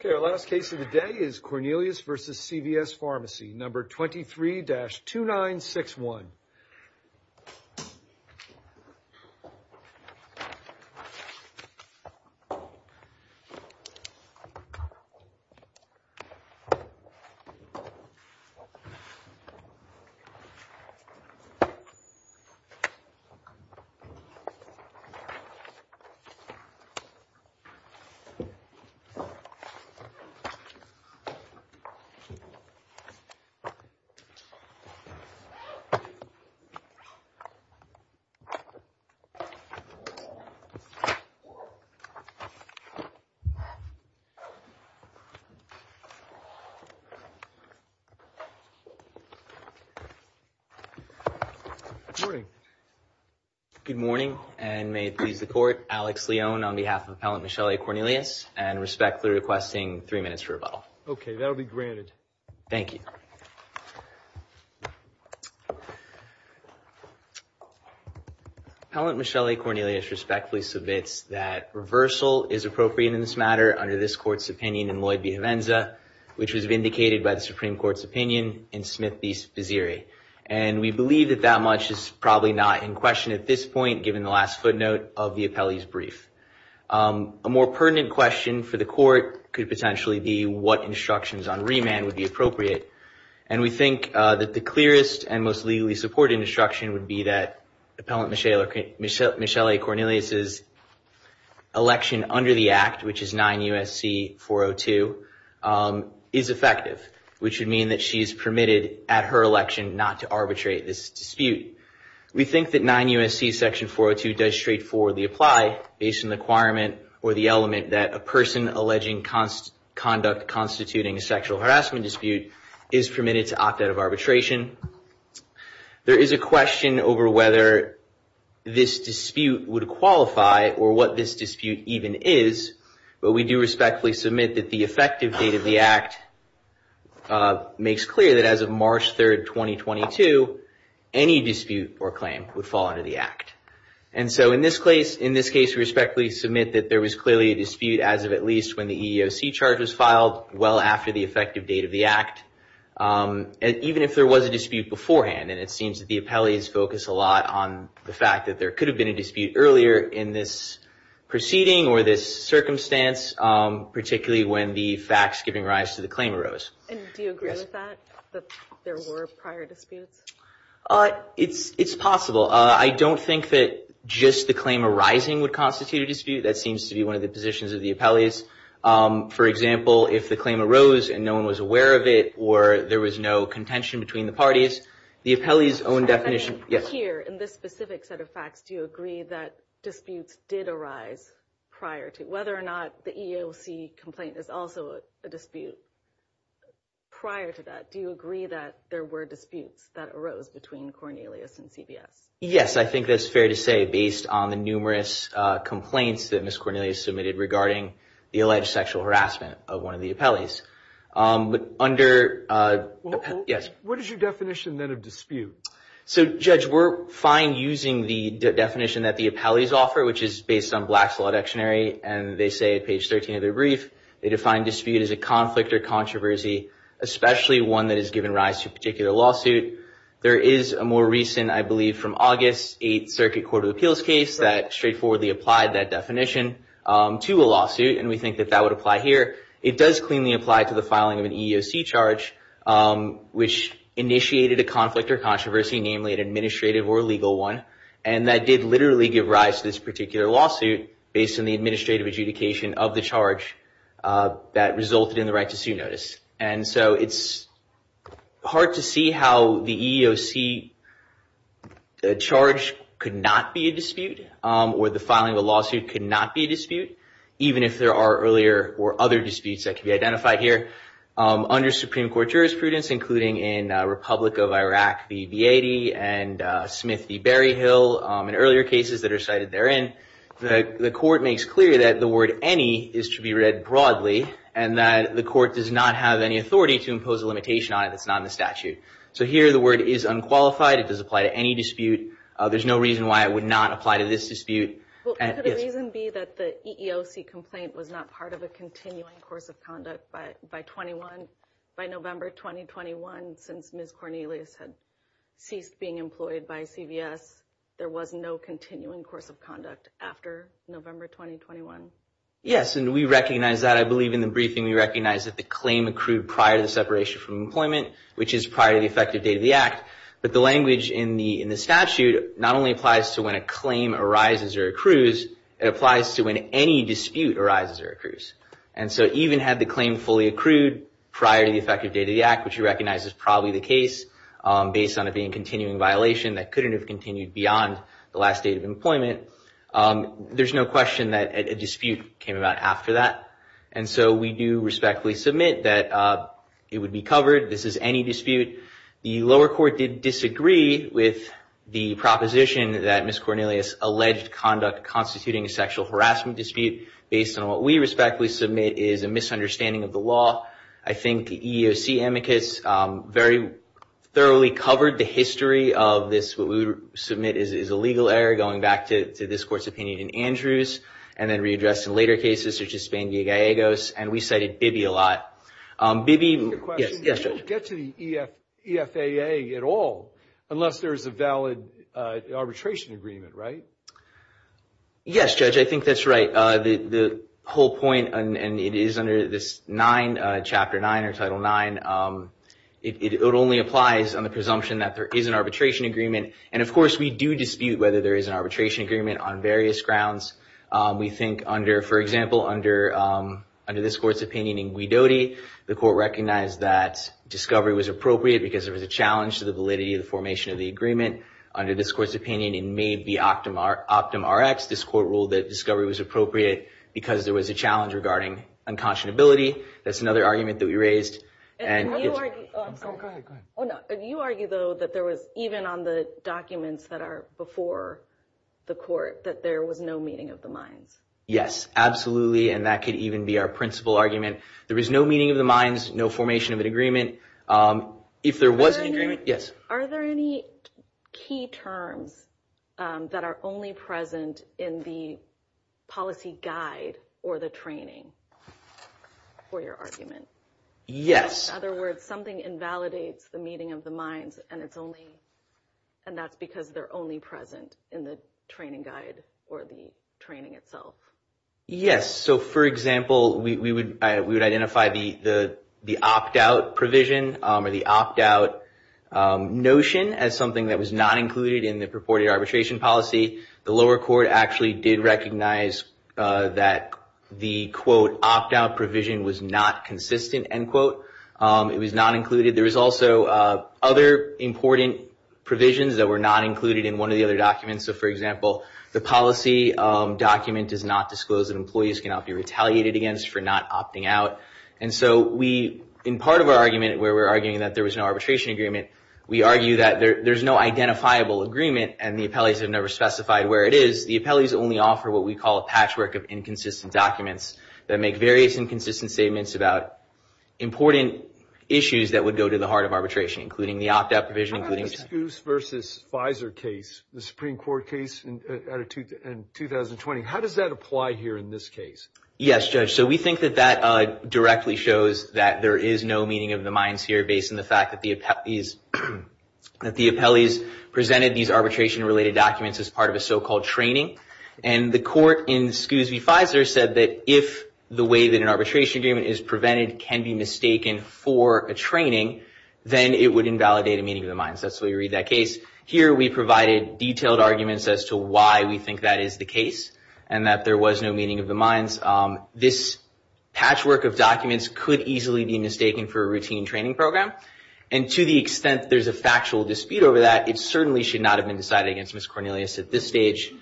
Okay, our last case of the day is Cornelius v. CVS Pharmacy, number 23-2961. Good morning, and may it please the Court, Alex Leone on behalf of the Appellant Michelle A. Cornelius, and respectfully requesting three minutes for rebuttal. Okay, that'll be granted. Thank you. Appellant Michelle A. Cornelius respectfully submits that reversal is appropriate in this matter under this Court's opinion in Lloyd v. Hovenza, which was vindicated by the Supreme Court's opinion in Smith v. Vizieri. And we believe that that much is probably not in question at this point, given the last footnote of the appellee's brief. A more pertinent question for the Court could potentially be what instructions on remand would be appropriate. And we think that the clearest and most legally supported instruction would be that Appellant Michelle A. Cornelius's election under the Act, which is 9 U.S.C. 402, is effective, which would mean that she is permitted at her election not to arbitrate this dispute. We think that 9 U.S.C. section 402 does straightforwardly apply, based on the requirement or the element that a person alleging conduct constituting a sexual harassment dispute is permitted to opt out of arbitration. There is a question over whether this dispute would qualify or what this dispute even is, but we do respectfully submit that the effective date of the Act makes clear that as of March 3, 2022, any dispute or claim would fall under the Act. And so in this case, we respectfully submit that there was clearly a dispute as of at least when the EEOC charge was filed, well after the effective date of the Act, even if there was a dispute beforehand. And it seems that the appellees focus a lot on the fact that there could have been a dispute earlier in this proceeding or this circumstance, particularly when the facts giving rise to the claim arose. And do you agree with that, that there were prior disputes? It's possible. I don't think that just the claim arising would constitute a dispute. That seems to be one of the positions of the appellees. For example, if the claim arose and no one was aware of it or there was no contention between the parties, the appellees own definition. Here, in this specific set of facts, do you agree that disputes did arise prior to whether or not the EEOC complaint is also a dispute? Prior to that, do you agree that there were disputes that arose between Cornelius and CBS? Yes, I think that's fair to say based on the numerous complaints that Ms. Cornelius submitted regarding the alleged sexual harassment of one of the appellees. Under... Yes. What is your definition then of dispute? So Judge, we're fine using the definition that the appellees offer, which is based on and they say at page 13 of their brief, they define dispute as a conflict or controversy, especially one that has given rise to a particular lawsuit. There is a more recent, I believe from August, 8th Circuit Court of Appeals case that straightforwardly applied that definition to a lawsuit, and we think that that would apply here. It does cleanly apply to the filing of an EEOC charge, which initiated a conflict or controversy, namely an administrative or legal one, and that did literally give rise to this particular lawsuit based on the administrative adjudication of the charge that resulted in the right to sue notice. And so it's hard to see how the EEOC charge could not be a dispute, or the filing of a lawsuit could not be a dispute, even if there are earlier or other disputes that could be identified here. Under Supreme Court jurisprudence, including in Republic of Iraq v. Vietti and Smith v. Hill and earlier cases that are cited therein, the court makes clear that the word any is to be read broadly, and that the court does not have any authority to impose a limitation on it that's not in the statute. So here the word is unqualified, it does apply to any dispute, there's no reason why it would not apply to this dispute. Could a reason be that the EEOC complaint was not part of a continuing course of conduct by November 2021, since Ms. Cornelius had ceased being employed by CVS, there was no continuing course of conduct after November 2021? Yes, and we recognize that. I believe in the briefing we recognize that the claim accrued prior to the separation from employment, which is prior to the effective date of the act. But the language in the statute not only applies to when a claim arises or accrues, it applies to when any dispute arises or accrues. And so even had the claim fully accrued prior to the effective date of the act, which we recognize is probably the case, based on it being a continuing violation that couldn't have continued beyond the last date of employment, there's no question that a dispute came about after that. And so we do respectfully submit that it would be covered. This is any dispute. The lower court did disagree with the proposition that Ms. Cornelius alleged conduct constituting a sexual harassment dispute based on what we respectfully submit is a misunderstanding of the law. I think the EEOC amicus very thoroughly covered the history of this, what we submit is a legal error going back to this court's opinion in Andrews, and then readdressed in later cases such as Spanier-Gallegos, and we cited Bibi a lot. Bibi... I have a question. Yes, Judge. You can't get to the EFAA at all unless there's a valid arbitration agreement, right? Yes, Judge, I think that's right. The whole point, and it is under this 9, Chapter 9 or Title 9, it only applies on the presumption that there is an arbitration agreement. And of course, we do dispute whether there is an arbitration agreement on various grounds. We think under, for example, under this court's opinion in Guidotti, the court recognized that discovery was appropriate because there was a challenge to the validity of the formation of the agreement. Under this court's opinion, it may be optum Rx, this court ruled that discovery was appropriate because there was a challenge regarding unconscionability. That's another argument that we raised. And you argue... Go ahead, go ahead. Oh, no. You argue, though, that there was, even on the documents that are before the court, that there was no meeting of the minds. Yes, absolutely, and that could even be our principal argument. There is no meeting of the minds, no formation of an agreement. If there was an agreement... Yes. Are there any key terms that are only present in the policy guide or the training for your argument? Yes. In other words, something invalidates the meeting of the minds, and it's only... And that's because they're only present in the training guide or the training itself. Yes. So, for example, we would identify the opt-out provision or the opt-out notion as something that was not included in the purported arbitration policy. The lower court actually did recognize that the, quote, opt-out provision was not consistent, end quote. It was not included. There was also other important provisions that were not included in one of the other documents. So, for example, the policy document does not disclose that employees cannot be retaliated against for not opting out. And so we, in part of our argument where we're arguing that there was no arbitration agreement, we argue that there's no identifiable agreement, and the appellees have never specified where it is. The appellees only offer what we call a patchwork of inconsistent documents that make various inconsistent statements about important issues that would go to the heart of arbitration, including the opt-out provision, including... So, in the Max v. Pfizer case, the Supreme Court case in 2020, how does that apply here in this case? Yes, Judge. So, we think that that directly shows that there is no meaning of the mines here based on the fact that the appellees presented these arbitration-related documents as part of a so-called training. And the court in Scoos v. Pfizer said that if the way that an arbitration agreement is prevented can be mistaken for a training, then it would invalidate a meaning of the case. Here, we provided detailed arguments as to why we think that is the case, and that there was no meaning of the mines. This patchwork of documents could easily be mistaken for a routine training program. And to the extent there's a factual dispute over that, it certainly should not have been decided against Ms. Cornelius at this stage.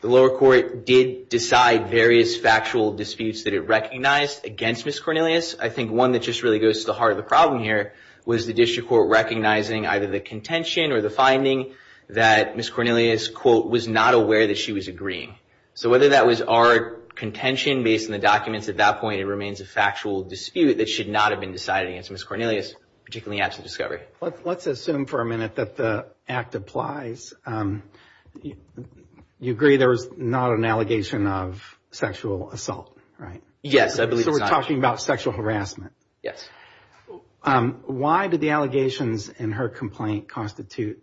The lower court did decide various factual disputes that it recognized against Ms. Cornelius. I think one that just really goes to the heart of the problem here was the district court recognizing either the contention or the finding that Ms. Cornelius, quote, was not aware that she was agreeing. So whether that was our contention based on the documents at that point, it remains a factual dispute that should not have been decided against Ms. Cornelius, particularly after the discovery. Let's assume for a minute that the act applies. You agree there was not an allegation of sexual assault, right? Yes, I believe it's not. So, we're talking about sexual harassment? Yes. Why did the allegations in her complaint constitute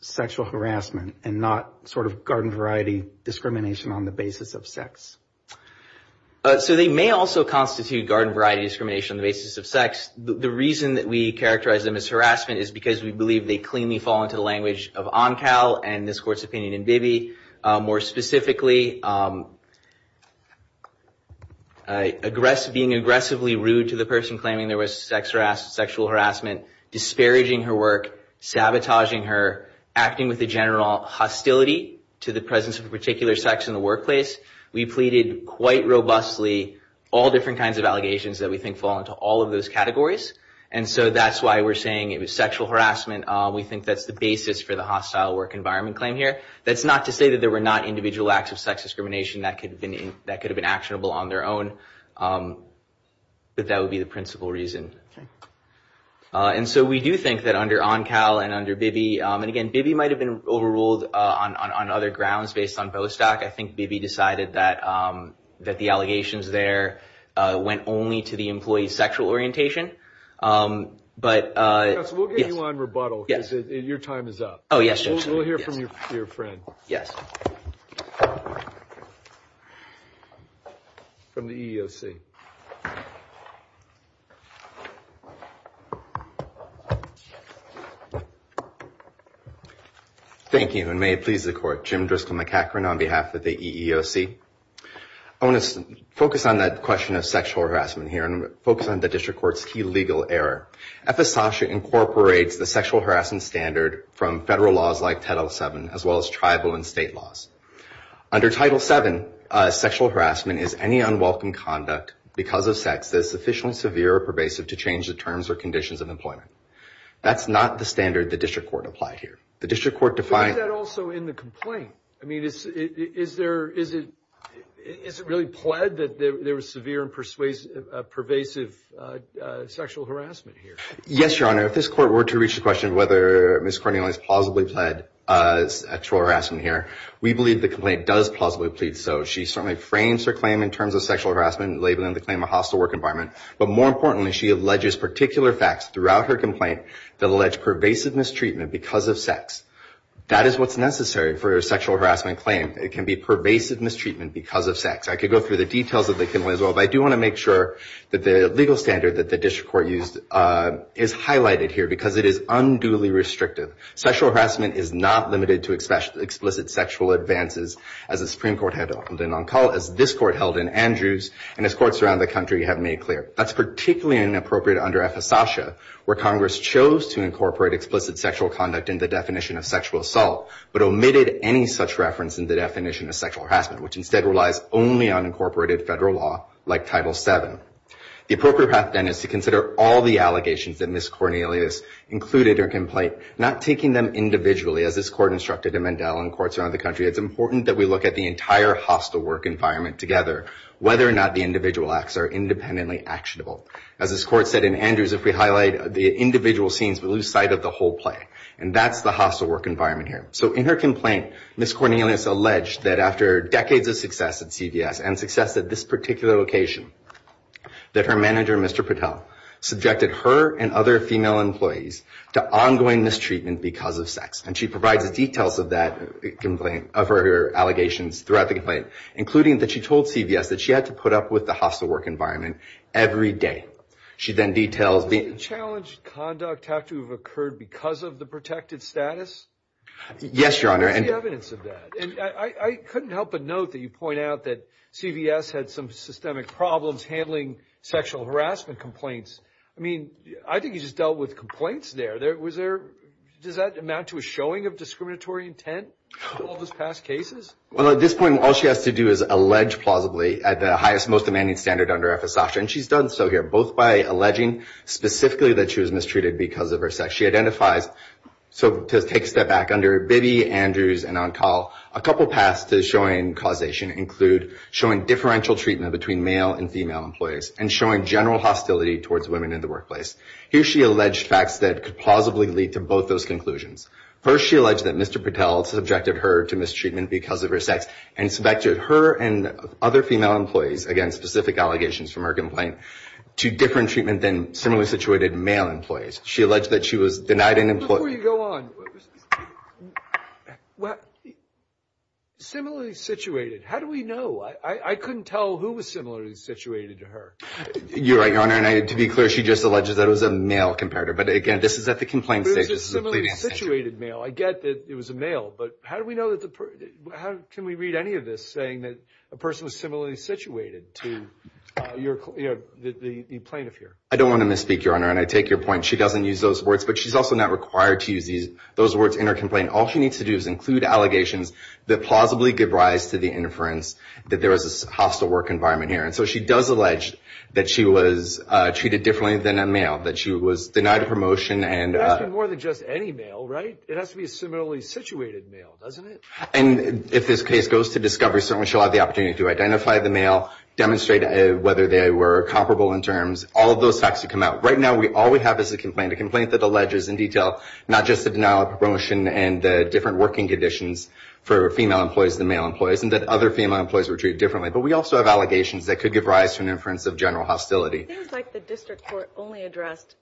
sexual harassment and not sort of garden variety discrimination on the basis of sex? So they may also constitute garden variety discrimination on the basis of sex. The reason that we characterize them as harassment is because we believe they cleanly fall into the language of ONCAL and this court's opinion in Bibby. More specifically, being aggressively rude to the person claiming there was sexual harassment, disparaging her work, sabotaging her, acting with a general hostility to the presence of a particular sex in the workplace. We pleaded quite robustly all different kinds of allegations that we think fall into all of those categories. And so that's why we're saying it was sexual harassment. We think that's the basis for the hostile work environment claim here. That's not to say that there were not individual acts of sex discrimination that could have been actionable on their own, but that would be the principal reason. And so we do think that under ONCAL and under Bibby, and again, Bibby might have been overruled on other grounds based on Bostock. I think Bibby decided that the allegations there went only to the employee's sexual orientation. But yes. We'll get you on rebuttal. Yes. Your time is up. Oh, yes. We'll hear from your friend. From the EEOC. Thank you, and may it please the Court. Jim Driscoll McEachran on behalf of the EEOC. I want to focus on that question of sexual harassment here and focus on the district court's key legal error. FSASHA incorporates the sexual harassment standard from federal laws like Title VII as well as tribal and state laws. Under Title VII, sexual harassment is any unwelcome conduct because of sex that is sufficiently severe or pervasive to change the terms or conditions of employment. That's not the standard the district court applied here. The district court defined- But isn't that also in the complaint? I mean, is it really pled that there was severe and pervasive sexual harassment here? Yes, Your Honor. If this Court were to reach the question of whether Ms. Cornelius plausibly pled sexual harassment here, we believe the complaint does plausibly plead so. She certainly frames her claim in terms of sexual harassment, labeling the claim a hostile work environment. But more importantly, she alleges particular facts throughout her complaint that allege pervasive mistreatment because of sex. That is what's necessary for a sexual harassment claim. It can be pervasive mistreatment because of sex. I could go through the details of the complaint as well, but I do want to make sure that the legal standard that the district court used is highlighted here because it is unduly restrictive. Sexual harassment is not limited to explicit sexual advances as the Supreme Court held in Onkala, as this Court held in Andrews, and as courts around the country have made clear. That's particularly inappropriate under FSASHA, where Congress chose to incorporate explicit sexual conduct in the definition of sexual assault, but omitted any such reference in the definition of sexual harassment, which instead relies only on incorporated federal law like Title VII. The appropriate path then is to consider all the allegations that Ms. Cornelius included in her complaint, not taking them individually, as this Court instructed in Mandela and courts around the country. It's important that we look at the entire hostile work environment together, whether or not the individual acts are independently actionable. As this Court said in Andrews, if we highlight the individual scenes, we lose sight of the whole play. And that's the hostile work environment here. So in her complaint, Ms. Cornelius alleged that after decades of success at CVS and success at this particular location, that her manager, Mr. Patel, subjected her and other female employees to ongoing mistreatment because of sex. And she provides details of that complaint, of her allegations throughout the complaint, including that she told CVS that she had to put up with the hostile work environment every day. She then details the... Does unchallenged conduct have to have occurred because of the protected status? Yes, Your Honor. What is the evidence of that? And I couldn't help but note that you point out that CVS had some systemic problems handling sexual harassment complaints. I mean, I think you just dealt with complaints there. Was there... Does that amount to a showing of discriminatory intent with all those past cases? Well, at this point, all she has to do is allege plausibly at the highest, most demanding standard under FSASHA. And she's done so here, both by alleging specifically that she was mistreated because of her sex. She identifies... So, to take a step back, under Bibby, Andrews, and Oncall, a couple paths to showing causation include showing differential treatment between male and female employees and showing general hostility towards women in the workplace. Here she alleged facts that could plausibly lead to both those conclusions. First, she alleged that Mr. Patel subjected her to mistreatment because of her sex and subjected her and other female employees, again, specific allegations from her complaint, to different treatment than similarly situated male employees. She alleged that she was denied an employment... Before you go on, similarly situated, how do we know? I couldn't tell who was similarly situated to her. You're right, Your Honor. And to be clear, she just alleged that it was a male comparator. But again, this is at the complaint stage. But it was a similarly situated male. I get that it was a male. But how do we know that the... Can we read any of this saying that a person was similarly situated to the plaintiff here? I don't want to misspeak, Your Honor, and I take your point. She doesn't use those words, but she's also not required to use those words in her complaint. All she needs to do is include allegations that plausibly give rise to the interference that there was a hostile work environment here. And so, she does allege that she was treated differently than a male, that she was denied a promotion and... It has to be more than just any male, right? It has to be a similarly situated male, doesn't it? And if this case goes to discovery, certainly she'll have the opportunity to identify the male, demonstrate whether they were comparable in terms, all of those facts to come out. Right now, all we have is a complaint, a complaint that alleges in detail not just the denial of promotion and the different working conditions for female employees than male employees, and that other female employees were treated differently. But we also have allegations that could give rise to an inference of general hostility. It seems like the district court only addressed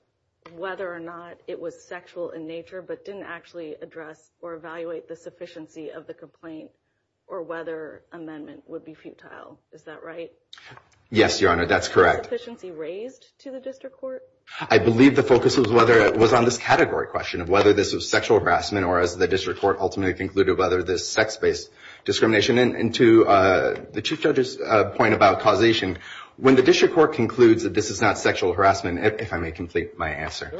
whether or not it was sexual in nature, but it didn't actually address or evaluate the sufficiency of the complaint or whether amendment would be futile. Is that right? Yes, Your Honor. That's correct. Was the sufficiency raised to the district court? I believe the focus was on this category question of whether this was sexual harassment or as the district court ultimately concluded whether this is sex-based discrimination. And to the Chief Judge's point about causation, when the district court concludes that this is not sexual harassment, if I may complete my answer,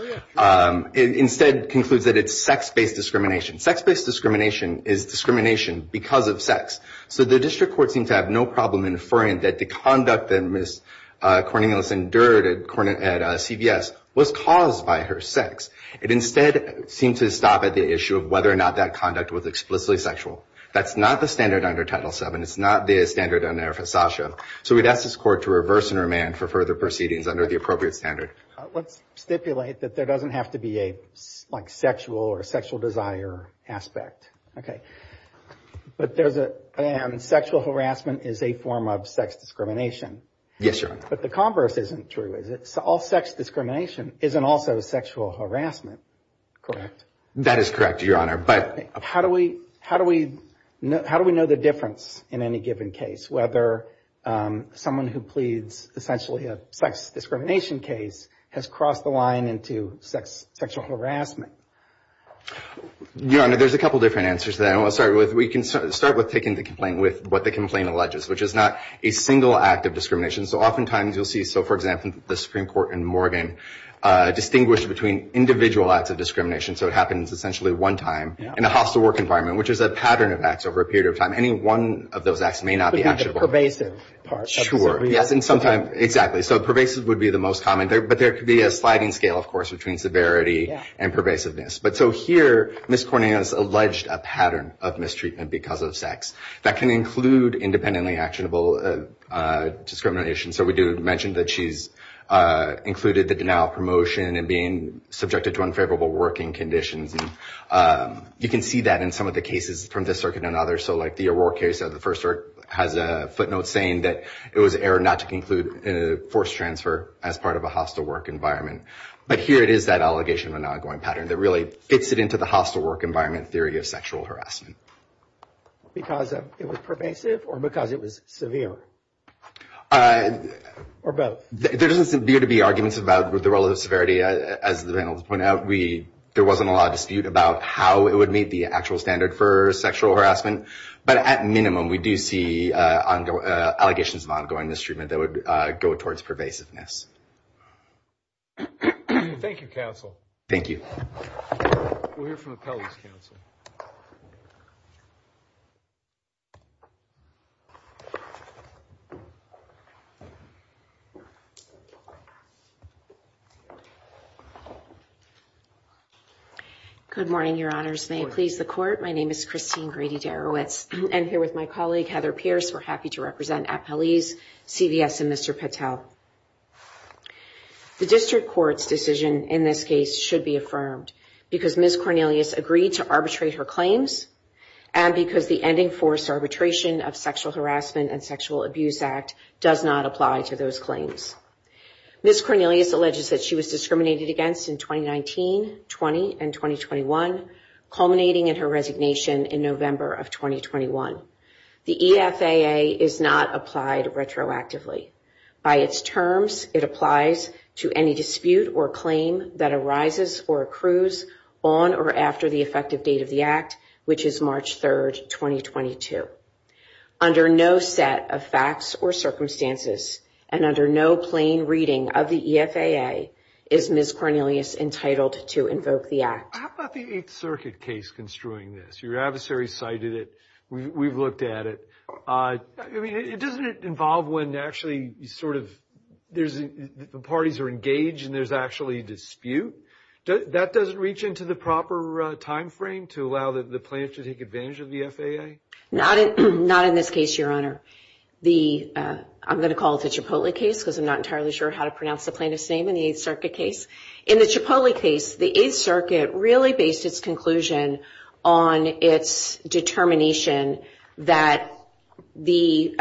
it instead concludes that it's sex-based discrimination. Sex-based discrimination is discrimination because of sex. So the district court seemed to have no problem inferring that the conduct that Ms. Cornelius endured at CVS was caused by her sex. It instead seemed to stop at the issue of whether or not that conduct was explicitly sexual. That's not the standard under Title VII. It's not the standard under FSASHA. So we'd ask this court to reverse and remand for further proceedings under the appropriate standard. Let's stipulate that there doesn't have to be a sexual or sexual desire aspect. But there's a sexual harassment is a form of sex discrimination. Yes, Your Honor. But the converse isn't true, is it? All sex discrimination isn't also sexual harassment, correct? That is correct, Your Honor. How do we know the difference in any given case, whether someone who pleads essentially a sex discrimination case has crossed the line into sexual harassment? Your Honor, there's a couple different answers to that. We can start with taking the complaint with what the complaint alleges, which is not a single act of discrimination. So oftentimes you'll see, so for example, the Supreme Court in Morgan distinguished between individual acts of discrimination. So it happens essentially one time in a hostile work environment, which is a pattern of acts over a period of time. Any one of those acts may not be actionable. But you get the pervasive part. Sure, yes. And sometimes, exactly. So pervasive would be the most common. But there could be a sliding scale, of course, between severity and pervasiveness. But so here, Ms. Cornelius alleged a pattern of mistreatment because of sex. That can include independently actionable discrimination. So we do mention that she's included the denial of promotion and being subjected to unfavorable working conditions. You can see that in some of the cases from this circuit and others. So like the O'Rourke case of the first circuit has a footnote saying that it was an error not to conclude a forced transfer as part of a hostile work environment. But here it is, that allegation of an ongoing pattern that really fits it into the hostile work environment theory of sexual harassment. Because it was pervasive or because it was severe? Or both. There doesn't seem to be arguments about the relative severity. As the panel has pointed out, there wasn't a lot of dispute about how it would meet the actual standard for sexual harassment. But at minimum, we do see allegations of ongoing mistreatment that would go towards pervasiveness. Thank you, counsel. Thank you. We'll hear from appellees, counsel. Good morning, your honors. May it please the court. My name is Christine Grady-Darowitz. And here with my colleague, Heather Pierce, we're happy to represent appellees, CVS, and Mr. Patel. The district court's decision in this case should be affirmed because Ms. Cornelius agreed to arbitrate her claims and because the ending forced arbitration of Sexual Harassment and Sexual Abuse Act does not apply to those claims. Ms. Cornelius alleges that she was discriminated against in 2019, 20, and 2021, culminating in her resignation in November of 2021. The EFAA is not applied retroactively. By its terms, it applies to any dispute or claim that arises or accrues on or after the effective date of the act, which is March 3, 2022. Under no set of facts or circumstances, and under no plain reading of the EFAA, is Ms. Cornelius entitled to invoke the act. How about the Eighth Circuit case construing this? Your adversary cited it. We've looked at it. I mean, it doesn't involve when actually sort of the parties are engaged and there's actually a dispute. That doesn't reach into the proper timeframe to allow the plaintiff to take advantage of the EFAA? Not in this case, Your Honor. I'm going to call it the Cipolli case because I'm not entirely sure how to pronounce the plaintiff's name in the Eighth Circuit case. In the Cipolli case, the Eighth Circuit really based its conclusion on its determination that the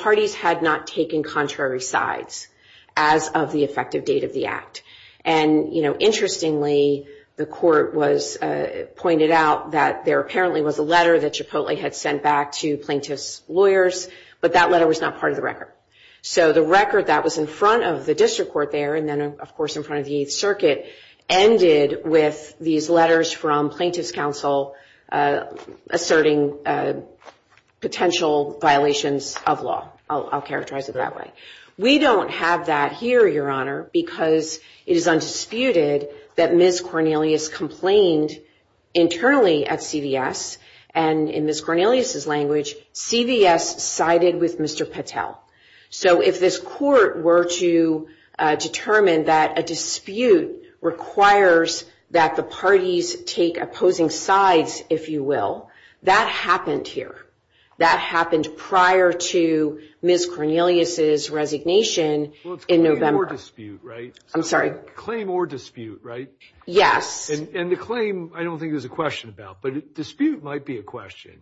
parties had not taken contrary sides as of the effective date of the act. And interestingly, the court pointed out that there apparently was a letter that Cipolli had sent back to plaintiff's lawyers, but that letter was not part of the record. So the record that was in front of the district court there and then, of course, in front of the Eighth Circuit ended with these letters from plaintiff's counsel asserting potential violations of law. I'll characterize it that way. We don't have that here, Your Honor, because it is undisputed that Ms. Cornelius complained internally at CVS. And in Ms. Cornelius's language, CVS sided with Mr. Patel. So if this court were to determine that a dispute requires that the parties take opposing sides, if you will, that happened here. That happened prior to Ms. Cornelius's resignation in November. Well, it's claim or dispute, right? I'm sorry. Claim or dispute, right? Yes. And the claim, I don't think there's a question about, but dispute might be a question.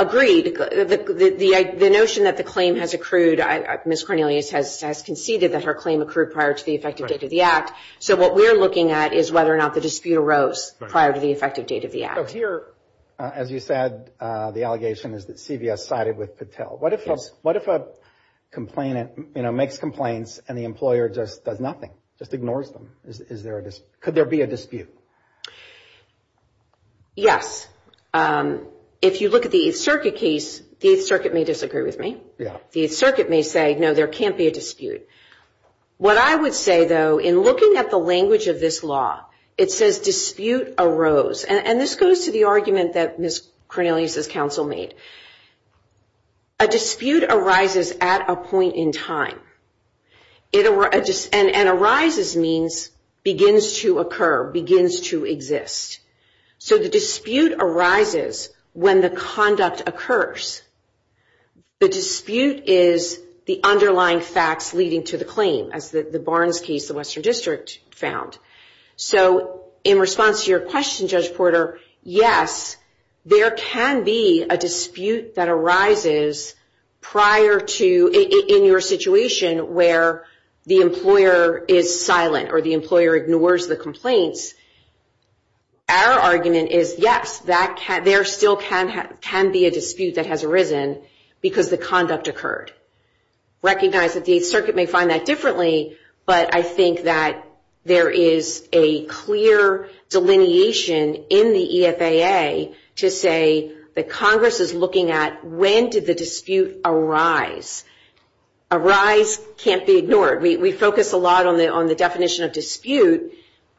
Agreed. The notion that the claim has accrued, Ms. Cornelius has conceded that her claim accrued prior to the effective date of the act. So what we're looking at is whether or not the dispute arose prior to the effective date of the act. So here, as you said, the allegation is that CVS sided with Patel. Yes. What if a complainant makes complaints and the employer just does nothing, just ignores them? Is there a dispute? Could there be a dispute? Yes. If you look at the Eighth Circuit case, the Eighth Circuit may disagree with me. Yeah. The Eighth Circuit may say, no, there can't be a dispute. What I would say, though, in looking at the language of this law, it says dispute arose. And this goes to the argument that Ms. Cornelius's counsel made. A dispute arises at a point in time. And arises means begins to occur, begins to exist. So the dispute arises when the conduct occurs. The dispute is the underlying facts leading to the claim, as the Barnes case, the Western District found. So in response to your question, Judge Porter, yes, there can be a dispute that arises prior to in your situation where the employer is silent or the employer ignores the complaints. Our argument is yes, there still can be a dispute that has arisen because the conduct occurred. Recognize that the Eighth Circuit may find that differently, but I think that there is a clear delineation in the EFAA to say that Congress is looking at when did the dispute arise. Arise can't be ignored. We focus a lot on the definition of dispute.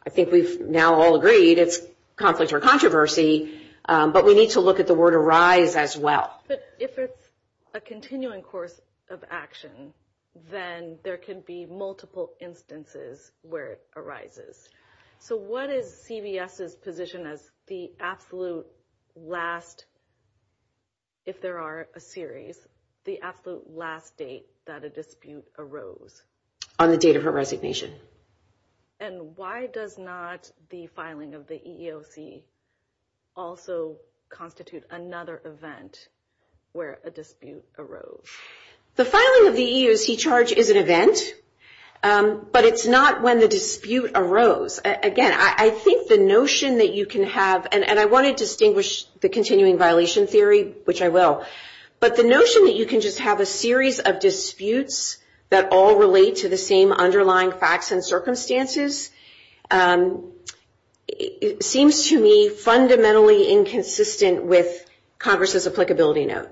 I think we've now all agreed it's conflict or controversy, but we need to look at the word arise as well. But if it's a continuing course of action, then there can be multiple instances where it arises. So what is CBS's position as the absolute last? If there are a series, the absolute last date that a dispute arose on the date of her resignation And why does not the filing of the EEOC also constitute another event where a dispute arose? The filing of the EEOC charge is an event, but it's not when the dispute arose. Again, I think the notion that you can have, and I want to distinguish the continuing violation theory, which I will, but the notion that you can just have a series of disputes that all relate to the same underlying facts and circumstances seems to me fundamentally inconsistent with Congress's applicability note.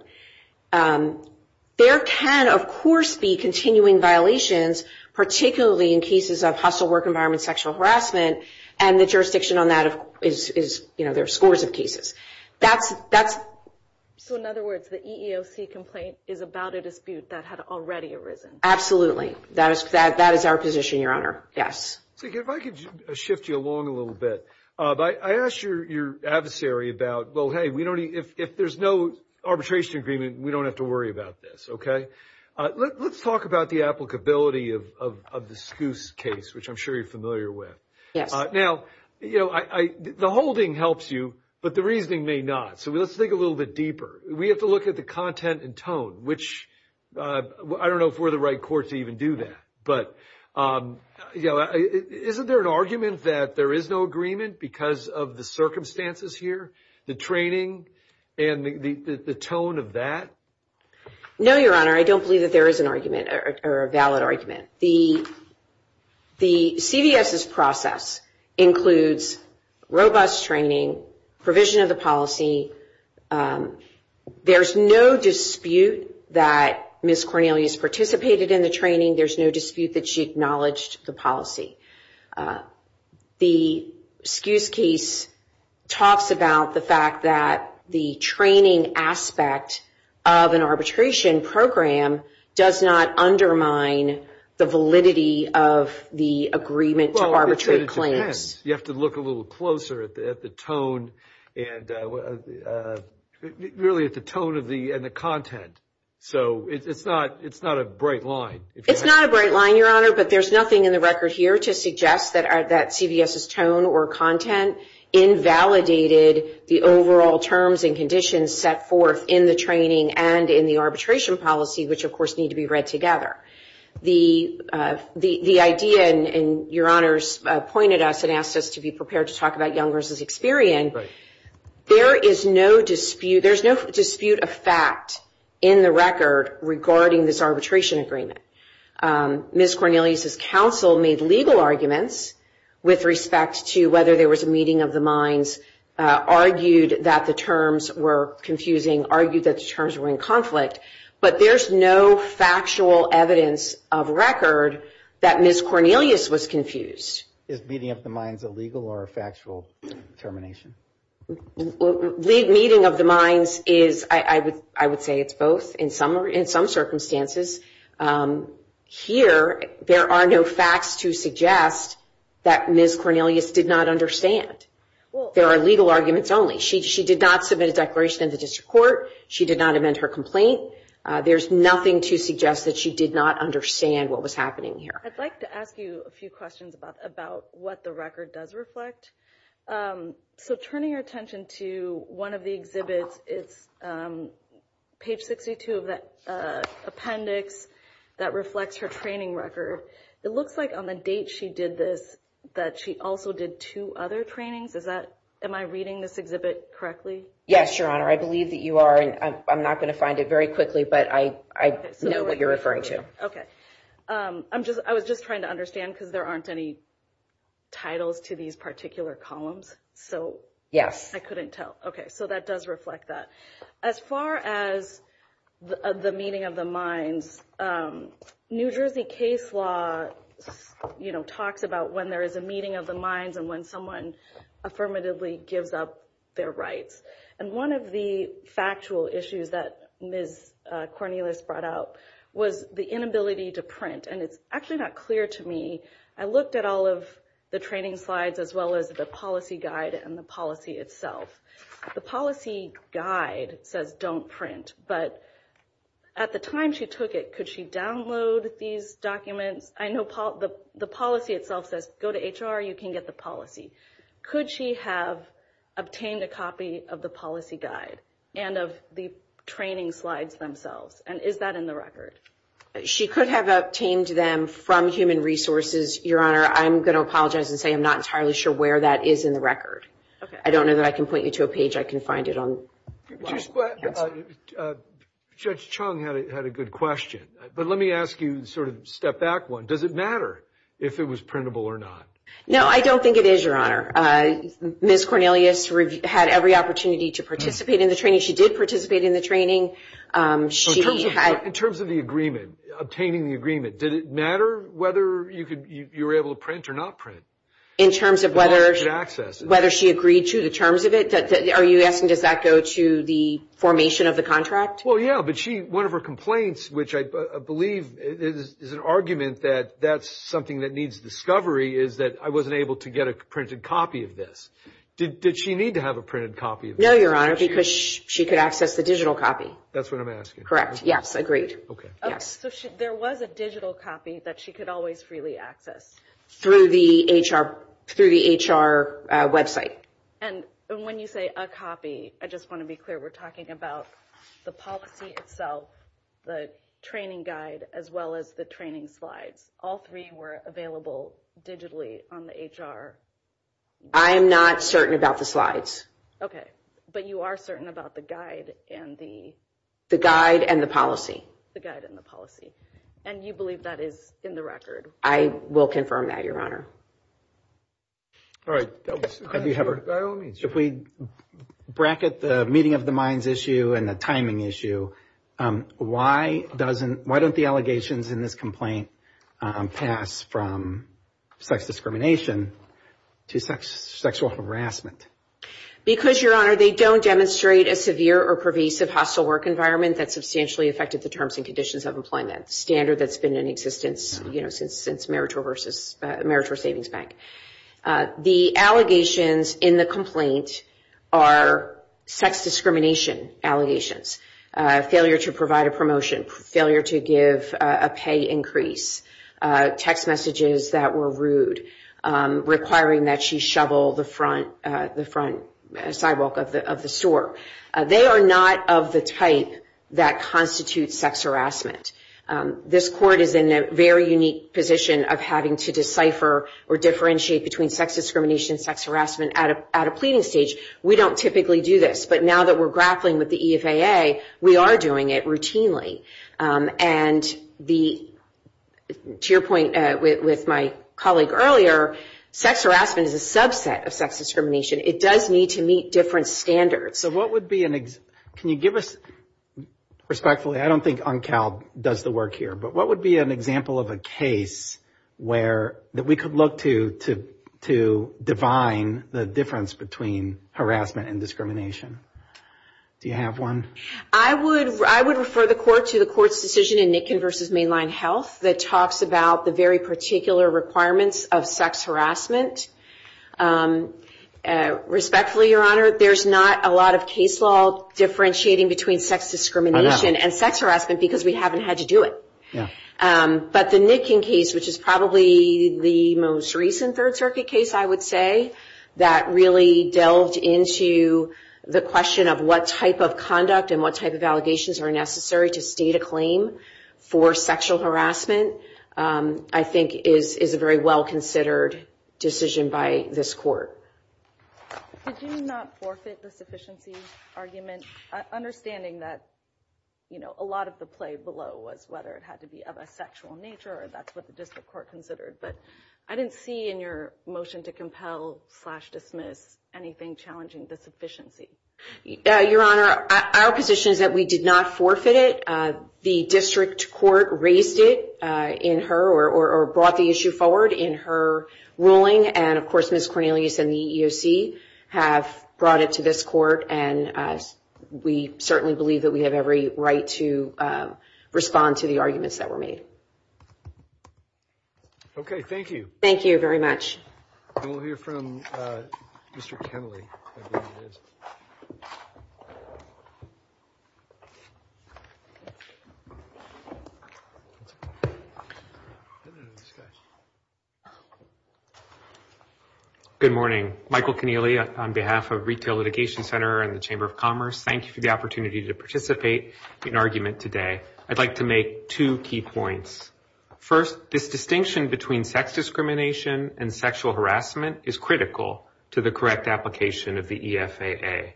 There can, of course, be continuing violations, particularly in cases of hostile work environment sexual harassment, and the jurisdiction on that is, you know, there are scores of cases. So in other words, the EEOC complaint is about a dispute that had already arisen? Absolutely. That is our position, Your Honor. Yes. See, if I could shift you along a little bit. I asked your adversary about, well, hey, if there's no arbitration agreement, we don't have to worry about this, okay? Let's talk about the applicability of the Scuse case, which I'm sure you're familiar with. Yes. Now, you know, the holding helps you, but the reasoning may not. So let's think a little bit deeper. We have to look at the content and tone, which I don't know if we're the right court to even do that. But, you know, isn't there an argument that there is no agreement because of the circumstances here, the training, and the tone of that? No, Your Honor. I don't believe that there is an argument or a valid argument. The CVS's process includes robust training, provision of the policy. There's no dispute that Ms. Cornelius participated in the training. There's no dispute that she acknowledged the policy. The Scuse case talks about the fact that the training aspect of an arbitration program does not undermine the validity of the agreement to arbitrate claims. You have to look a little closer at the tone and really at the tone and the content. So it's not a bright line. It's not a bright line, Your Honor, but there's nothing in the record here to suggest that CVS's tone or content invalidated the overall terms and conditions set forth in the training and in the arbitration policy, which, of course, need to be read together. The idea, and Your Honor's point at us and asked us to be prepared to talk about Young versus Experian, there is no dispute of fact in the record regarding this arbitration agreement. Ms. Cornelius's counsel made legal arguments with respect to whether there was a meeting of the minds, argued that the terms were confusing, argued that the terms were in conflict, but there's no factual evidence of record that Ms. Cornelius was confused. Is meeting of the minds illegal or a factual termination? Meeting of the minds is, I would say it's both in some circumstances. Here, there are no facts to suggest that Ms. Cornelius did not understand. There are legal arguments only. She did not submit a declaration in the district court. She did not amend her complaint. There's nothing to suggest that she did not understand what was happening here. I'd like to ask you a few questions about what the record does reflect. So turning your attention to one of the exhibits, it's page 62 of the appendix that reflects her training record. It looks like on the date she did this that she also did two other trainings. Am I reading this exhibit correctly? Yes, Your Honor. I believe that you are, and I'm not going to find it very quickly, but I know what you're referring to. Okay. I was just trying to understand because there aren't any titles to these particular columns. Yes. I couldn't tell. Okay. So that does reflect that. As far as the meeting of the minds, New Jersey case law, you know, talks about when there is a meeting of the minds and when someone affirmatively gives up their rights. And one of the factual issues that Ms. Cornelius brought up was the inability to print, and it's actually not clear to me. I looked at all of the training slides as well as the policy guide and the policy itself. The policy guide says don't print, but at the time she took it, could she download these documents? I know the policy itself says go to HR, you can get the policy. Could she have obtained a copy of the policy guide and of the training slides themselves, and is that in the record? She could have obtained them from human resources, Your Honor. I'm going to apologize and say I'm not entirely sure where that is in the record. Okay. I don't know that I can point you to a page I can find it on. Judge Chung had a good question, but let me ask you sort of step back one. Does it matter if it was printable or not? No, I don't think it is, Your Honor. Ms. Cornelius had every opportunity to participate in the training. She did participate in the training. In terms of the agreement, obtaining the agreement, did it matter whether you were able to print or not print? In terms of whether she agreed to the terms of it, are you asking does that go to the formation of the contract? Well, yeah, but one of her complaints, which I believe is an argument that that's something that needs discovery, is that I wasn't able to get a printed copy of this. Did she need to have a printed copy of this? No, Your Honor, because she could access the digital copy. That's what I'm asking. Correct. Yes, agreed. Yes. So there was a digital copy that she could always freely access. Through the HR website. And when you say a copy, I just want to be clear, we're talking about the policy itself, the training guide, as well as the training slides. All three were available digitally on the HR. I am not certain about the slides. Okay, but you are certain about the guide and the – The guide and the policy. The guide and the policy. And you believe that is in the record? I will confirm that, Your Honor. All right. If we bracket the meeting of the minds issue and the timing issue, why don't the allegations in this complaint pass from sex discrimination to sexual harassment? Because, Your Honor, they don't demonstrate a severe or pervasive hostile work environment that substantially affected the terms and conditions of employment, a standard that's been in existence, you know, since Meritor versus Meritor Savings Bank. The allegations in the complaint are sex discrimination allegations, failure to provide a promotion, failure to give a pay increase, text messages that were rude, requiring that she shovel the front sidewalk of the store. They are not of the type that constitutes sex harassment. This court is in a very unique position of having to decipher or differentiate between sex discrimination and sex harassment at a pleading stage. We don't typically do this, but now that we're grappling with the EFAA, we are doing it routinely. And to your point with my colleague earlier, sex harassment is a subset of sex discrimination. It does need to meet different standards. So what would be an example? Can you give us, respectfully, I don't think UNCAL does the work here, but what would be an example of a case that we could look to to define the difference between harassment and discrimination? Do you have one? I would refer the court to the court's decision in Nickin versus Mainline Health that talks about the very particular requirements of sex harassment. Respectfully, Your Honor, there's not a lot of case law differentiating between sex discrimination and sex harassment because we haven't had to do it. But the Nickin case, which is probably the most recent Third Circuit case, I would say, that really delved into the question of what type of conduct and what type of allegations are necessary to state a claim for sexual harassment, I think is a very well-considered decision by this court. Did you not forfeit the sufficiency argument? Understanding that a lot of the play below was whether it had to be of a sexual nature or that's what the district court considered. But I didn't see in your motion to compel-slash-dismiss anything challenging the sufficiency. Your Honor, our position is that we did not forfeit it. The district court raised it in her or brought the issue forward in her ruling. And, of course, Ms. Cornelius and the EEOC have brought it to this court. And we certainly believe that we have every right to respond to the arguments that were made. Okay, thank you. Thank you very much. We'll hear from Mr. Kennelly. Good morning. Michael Kennelly on behalf of Retail Litigation Center and the Chamber of Commerce. Thank you for the opportunity to participate in argument today. I'd like to make two key points. First, this distinction between sex discrimination and sexual harassment is critical to the correct application of the EFAA.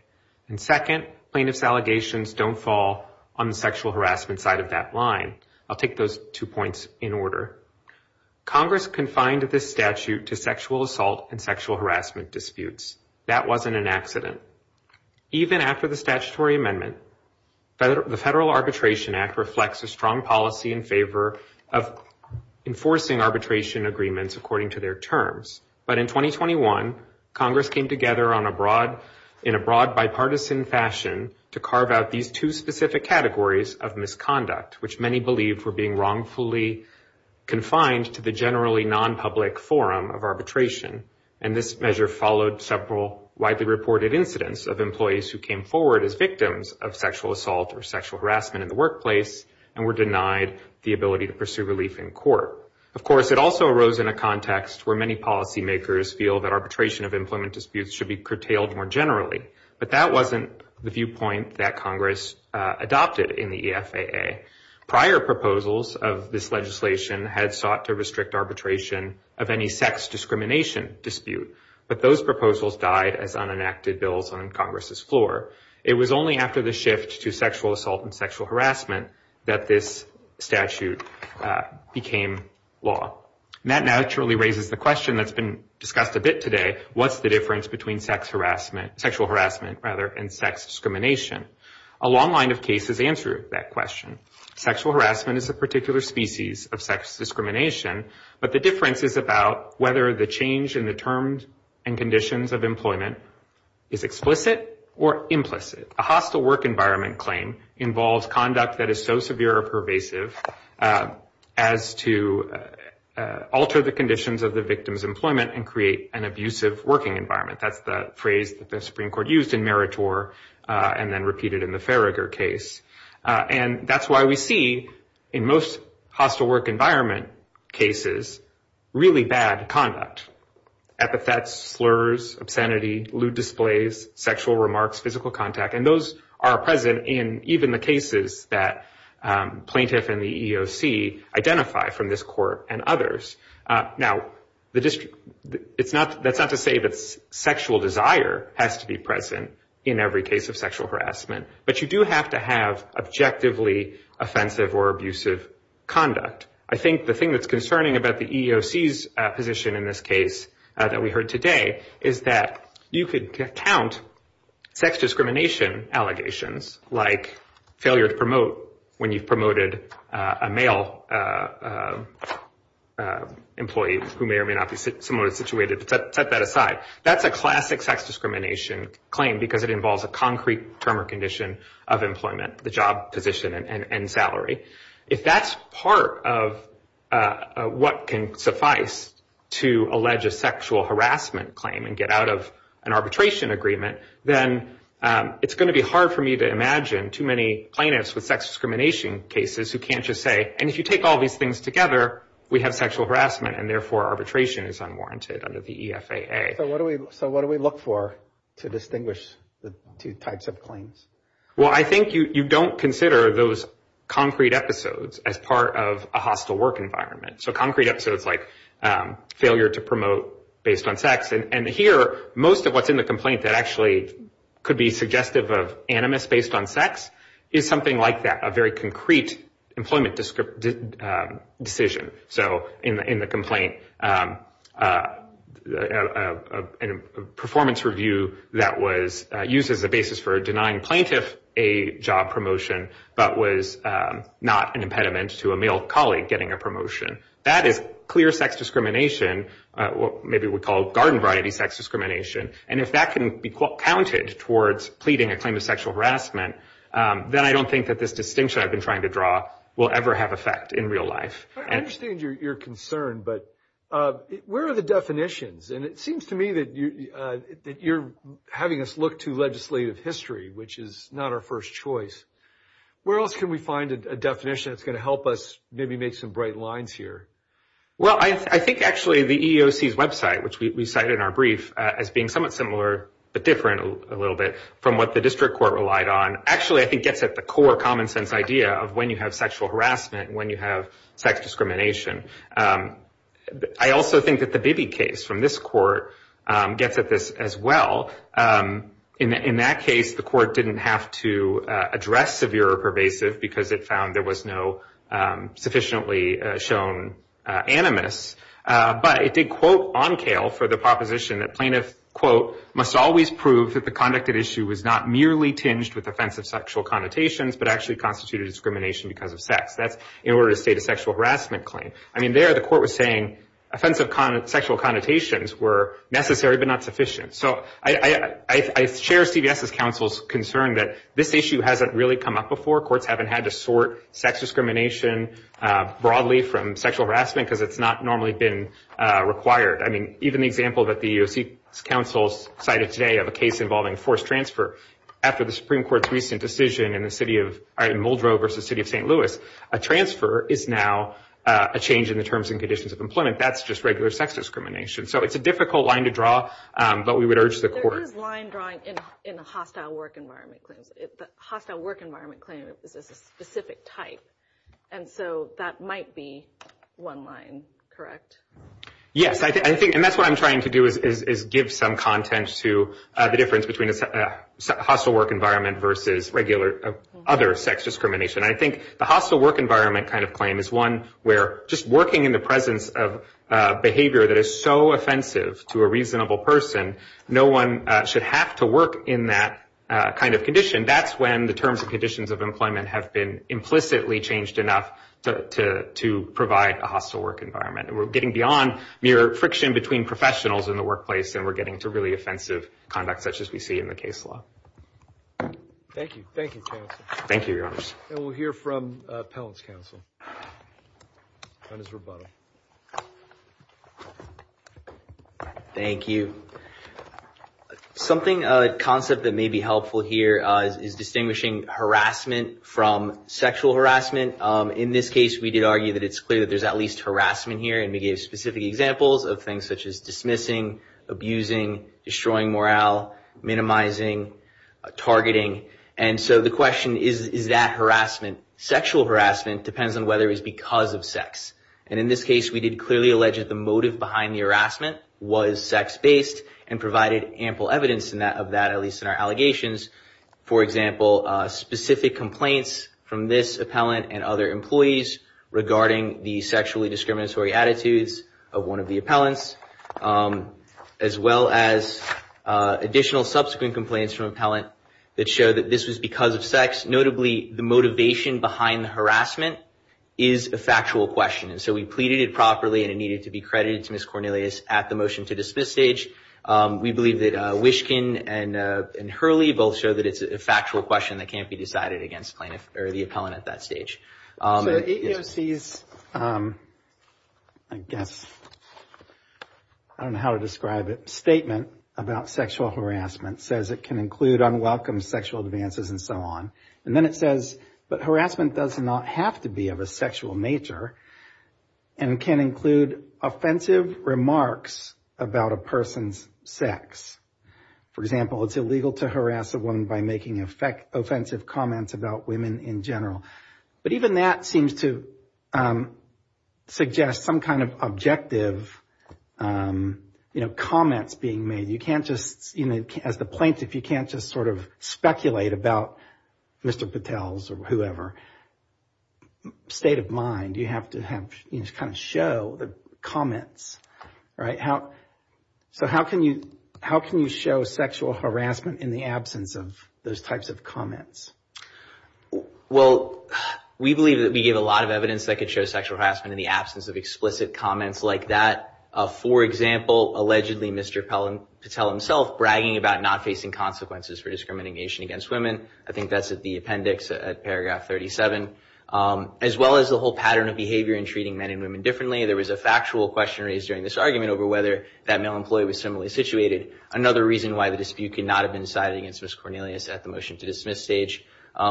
And second, plaintiff's allegations don't fall on the sexual harassment side of that line. I'll take those two points in order. Congress confined this statute to sexual assault and sexual harassment disputes. That wasn't an accident. Even after the statutory amendment, the Federal Arbitration Act reflects a strong policy in favor of enforcing arbitration agreements according to their terms. But in 2021, Congress came together in a broad bipartisan fashion to carve out these two specific categories of misconduct, which many believed were being wrongfully confined to the generally non-public forum of arbitration. And this measure followed several widely reported incidents of employees who came forward as victims of sexual assault or sexual harassment in the workplace and were denied the ability to pursue relief in court. Of course, it also arose in a context where many policymakers feel that arbitration of employment disputes should be curtailed more generally. But that wasn't the viewpoint that Congress adopted in the EFAA. Prior proposals of this legislation had sought to restrict arbitration of any sex discrimination dispute, but those proposals died as unenacted bills on Congress's floor. It was only after the shift to sexual assault and sexual harassment that this statute became law. And that naturally raises the question that's been discussed a bit today, what's the difference between sexual harassment and sex discrimination? A long line of cases answer that question. Sexual harassment is a particular species of sex discrimination, but the difference is about whether the change in the terms and conditions of employment is explicit or implicit. A hostile work environment claim involves conduct that is so severe or pervasive as to alter the conditions of the victim's employment and create an abusive working environment. That's the phrase that the Supreme Court used in Meritor and then repeated in the Farragher case. And that's why we see in most hostile work environment cases really bad conduct, epithets, slurs, obscenity, lewd displays, sexual remarks, physical contact. And those are present in even the cases that plaintiff and the EEOC identify from this court and others. Now, that's not to say that sexual desire has to be present in every case of sexual harassment, but you do have to have objectively offensive or abusive conduct. I think the thing that's concerning about the EEOC's position in this case that we heard today is that you could count sex discrimination allegations like failure to promote when you've promoted a male employee who may or may not be similarly situated, but set that aside. That's a classic sex discrimination claim because it involves a concrete term or condition of employment, the job position and salary. If that's part of what can suffice to allege a sexual harassment claim and get out of an arbitration agreement, then it's going to be hard for me to imagine too many plaintiffs with sex discrimination cases who can't just say, and if you take all these things together, we have sexual harassment, and therefore arbitration is unwarranted under the EFAA. So what do we look for to distinguish the two types of claims? Well, I think you don't consider those concrete episodes as part of a hostile work environment. So concrete episodes like failure to promote based on sex, and here most of what's in the complaint that actually could be suggestive of animus based on sex is something like that, a very concrete employment decision. So in the complaint, a performance review that was used as a basis for denying plaintiff a job promotion, but was not an impediment to a male colleague getting a promotion. That is clear sex discrimination, what maybe we call garden variety sex discrimination, and if that can be counted towards pleading a claim of sexual harassment, then I don't think that this distinction I've been trying to draw will ever have effect in real life. I understand your concern, but where are the definitions? And it seems to me that you're having us look to legislative history, which is not our first choice. Where else can we find a definition that's going to help us maybe make some bright lines here? Well, I think actually the EEOC's website, which we cited in our brief, as being somewhat similar but different a little bit from what the district court relied on, actually I think gets at the core common sense idea of when you have sexual harassment and when you have sex discrimination. I also think that the Bibby case from this court gets at this as well. In that case, the court didn't have to address severe or pervasive because it found there was no sufficiently shown animus, but it did quote on kale for the proposition that plaintiff, quote, must always prove that the conducted issue was not merely tinged with offensive sexual connotations but actually constituted discrimination because of sex. That's in order to state a sexual harassment claim. I mean, there the court was saying offensive sexual connotations were necessary but not sufficient. So I share CVS's counsel's concern that this issue hasn't really come up before. Courts haven't had to sort sex discrimination broadly from sexual harassment because it's not normally been required. I mean, even the example that the EEOC's counsel cited today of a case involving forced transfer, after the Supreme Court's recent decision in Muldrow versus the city of St. Louis, a transfer is now a change in the terms and conditions of employment. That's just regular sex discrimination. So it's a difficult line to draw, but we would urge the court. There is line drawing in the hostile work environment claims. The hostile work environment claim is a specific type, and so that might be one line, correct? Yes, and that's what I'm trying to do is give some content to the difference between a hostile work environment versus other sex discrimination. I think the hostile work environment kind of claim is one where just working in the presence of behavior that is so offensive to a reasonable person, no one should have to work in that kind of condition. That's when the terms and conditions of employment have been implicitly changed enough to provide a hostile work environment. And we're getting beyond mere friction between professionals in the workplace, and we're getting to really offensive conduct such as we see in the case law. Thank you. Thank you, counsel. Thank you, Your Honors. And we'll hear from appellant's counsel on his rebuttal. Thank you. Something, a concept that may be helpful here is distinguishing harassment from sexual harassment. In this case, we did argue that it's clear that there's at least harassment here, and we gave specific examples of things such as dismissing, abusing, destroying morale, minimizing, targeting. And so the question is, is that harassment, sexual harassment, depends on whether it's because of sex. And in this case, we did clearly allege that the motive behind the harassment was sex-based and provided ample evidence of that, at least in our allegations. For example, specific complaints from this appellant and other employees regarding the sexually discriminatory attitudes of one of the appellants, as well as additional subsequent complaints from appellant that show that this was because of sex. Notably, the motivation behind the harassment is a factual question, and so we pleaded it properly and it needed to be credited to Ms. Cornelius at the motion to dismiss stage. We believe that Wishkin and Hurley both show that it's a factual question that can't be decided against the appellant at that stage. So APOC's, I guess, I don't know how to describe it, statement about sexual harassment says it can include unwelcome sexual advances and so on. And then it says, but harassment does not have to be of a sexual nature and can include offensive remarks about a person's sex. For example, it's illegal to harass a woman by making offensive comments about women in general. But even that seems to suggest some kind of objective, you know, comments being made. You can't just, you know, as the plaintiff, you can't just sort of speculate about Mr. Patel's or whoever state of mind. You have to have kind of show the comments. Right. So how can you how can you show sexual harassment in the absence of those types of comments? Well, we believe that we give a lot of evidence that could show sexual harassment in the absence of explicit comments like that. For example, allegedly, Mr. Patel himself bragging about not facing consequences for discrimination against women. I think that's the appendix at paragraph 37, as well as the whole pattern of behavior in treating men and women differently. There was a factual question raised during this argument over whether that male employee was similarly situated. Another reason why the dispute could not have been decided against Ms. Cornelius at the motion to dismiss stage.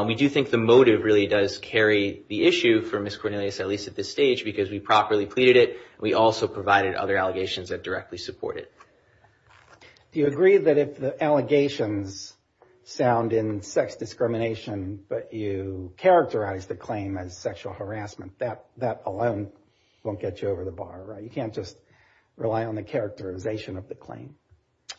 We do think the motive really does carry the issue for Ms. Cornelius, at least at this stage, because we properly pleaded it. We also provided other allegations that directly support it. Do you agree that if the allegations sound in sex discrimination, but you characterize the claim as sexual harassment, that that alone won't get you over the bar. You can't just rely on the characterization of the claim.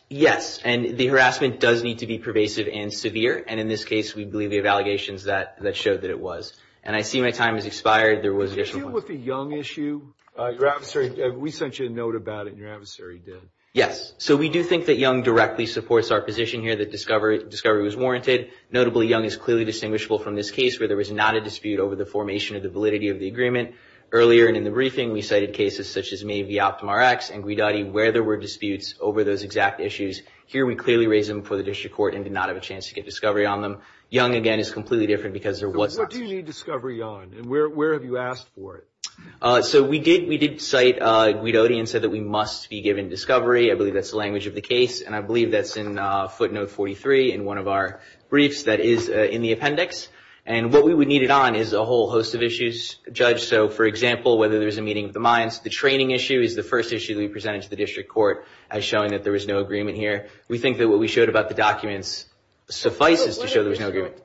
Yes. And the harassment does need to be pervasive and severe. And in this case, we believe the allegations that that showed that it was. And I see my time has expired. There was an issue with the young issue. Your adversary. We sent you a note about it. Your adversary did. Yes. So we do think that young directly supports our position here that discovery discovery was warranted. Notably, young is clearly distinguishable from this case where there was not a dispute over the formation of the validity of the agreement. Earlier in the briefing, we cited cases such as maybe Optima X and Guidotti where there were disputes over those exact issues. Here, we clearly raise them for the district court and did not have a chance to get discovery on them. Young, again, is completely different because there was. What do you need discovery on? And where have you asked for it? So we did. We did cite Guidotti and said that we must be given discovery. I believe that's the language of the case. And I believe that's in footnote 43 in one of our briefs that is in the appendix. And what we would need it on is a whole host of issues. Judge, so for example, whether there's a meeting of the minds. The training issue is the first issue that we presented to the district court as showing that there was no agreement here. We think that what we showed about the documents suffices to show there's no agreement.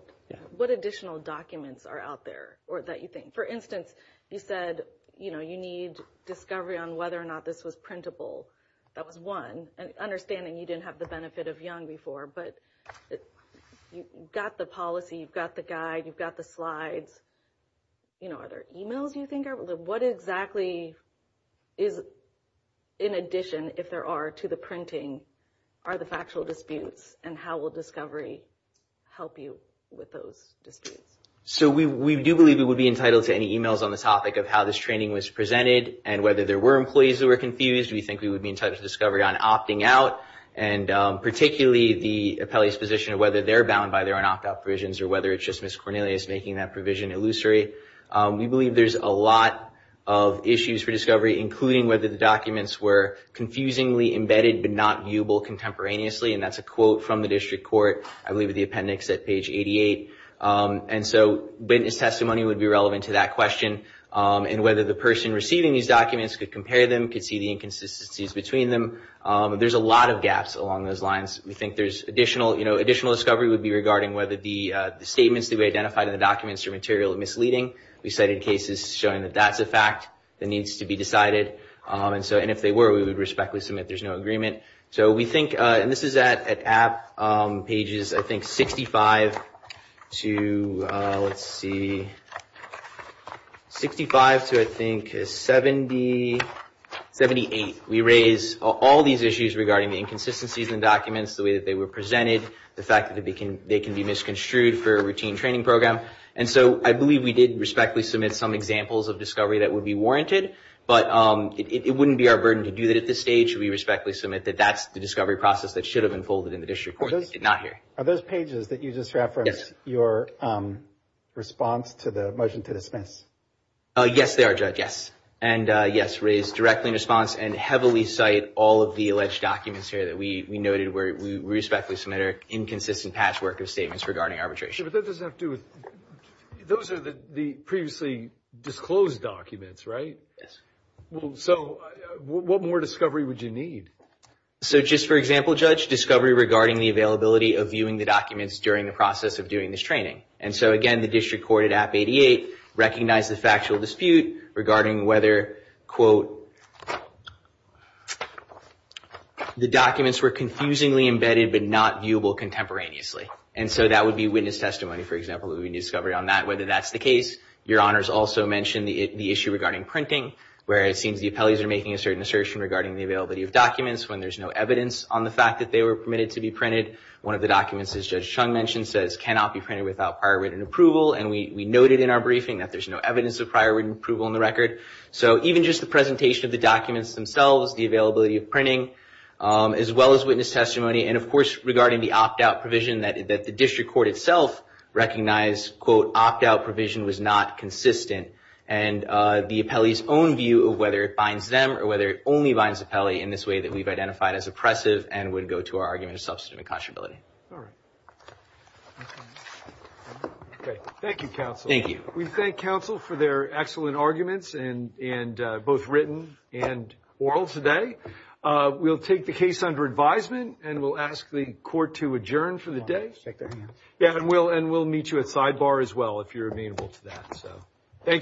What additional documents are out there or that you think? For instance, you said, you know, you need discovery on whether or not this was printable. That was one. And understanding you didn't have the benefit of young before, but you got the policy. You've got the guide. You've got the slides. You know, are there e-mails you think? What exactly is in addition, if there are to the printing, are the factual disputes? And how will discovery help you with those disputes? So we do believe we would be entitled to any e-mails on the topic of how this training was presented and whether there were employees that were confused. We think we would be entitled to discovery on opting out. And particularly the appellee's position of whether they're bound by their own opt out provisions or whether it's just Miss Cornelius making that provision illusory. We believe there's a lot of issues for discovery, including whether the documents were confusingly embedded, but not viewable contemporaneously. And that's a quote from the district court. I believe the appendix at page 88. And so witness testimony would be relevant to that question. And whether the person receiving these documents could compare them, could see the inconsistencies between them. There's a lot of gaps along those lines. We think there's additional discovery would be regarding whether the statements that we identified in the documents are materially misleading. We cited cases showing that that's a fact that needs to be decided. And if they were, we would respectfully submit there's no agreement. So we think, and this is at app pages, I think, 65 to, let's see, 65 to, I think, 78. We raise all these issues regarding the inconsistencies in documents, the way that they were presented, the fact that they can be misconstrued for a routine training program. And so I believe we did respectfully submit some examples of discovery that would be warranted. But it wouldn't be our burden to do that at this stage. We respectfully submit that that's the discovery process that should have unfolded in the district court. Are those pages that you just referenced your response to the motion to dismiss? Yes, they are, Judge, yes. And, yes, raised directly in response and heavily cite all of the alleged documents here that we noted where we respectfully submit inconsistent patchwork of statements regarding arbitration. But that doesn't have to do with, those are the previously disclosed documents, right? Yes. So what more discovery would you need? So just for example, Judge, discovery regarding the availability of viewing the documents during the process of doing this training. And so, again, the district court at App 88 recognized the factual dispute regarding whether, quote, the documents were confusingly embedded but not viewable contemporaneously. And so that would be witness testimony, for example, that we discovered on that, whether that's the case. Your Honors also mentioned the issue regarding printing, where it seems the appellees are making a certain assertion regarding the availability of documents when there's no evidence on the fact that they were permitted to be printed. One of the documents, as Judge Chung mentioned, says cannot be printed without prior written approval. And we noted in our briefing that there's no evidence of prior written approval in the record. So even just the presentation of the documents themselves, the availability of printing, as well as witness testimony, and, of course, regarding the opt-out provision that the district court itself recognized, quote, opt-out provision was not consistent. And the appellee's own view of whether it binds them or whether it only binds the appellee in this way that we've identified as oppressive and would go to our argument of substantive inconstitutability. All right. Thank you, counsel. Thank you. We thank counsel for their excellent arguments, both written and oral today. We'll take the case under advisement and we'll ask the court to adjourn for the day. And we'll meet you at sidebar as well if you're amenable to that. Thank you.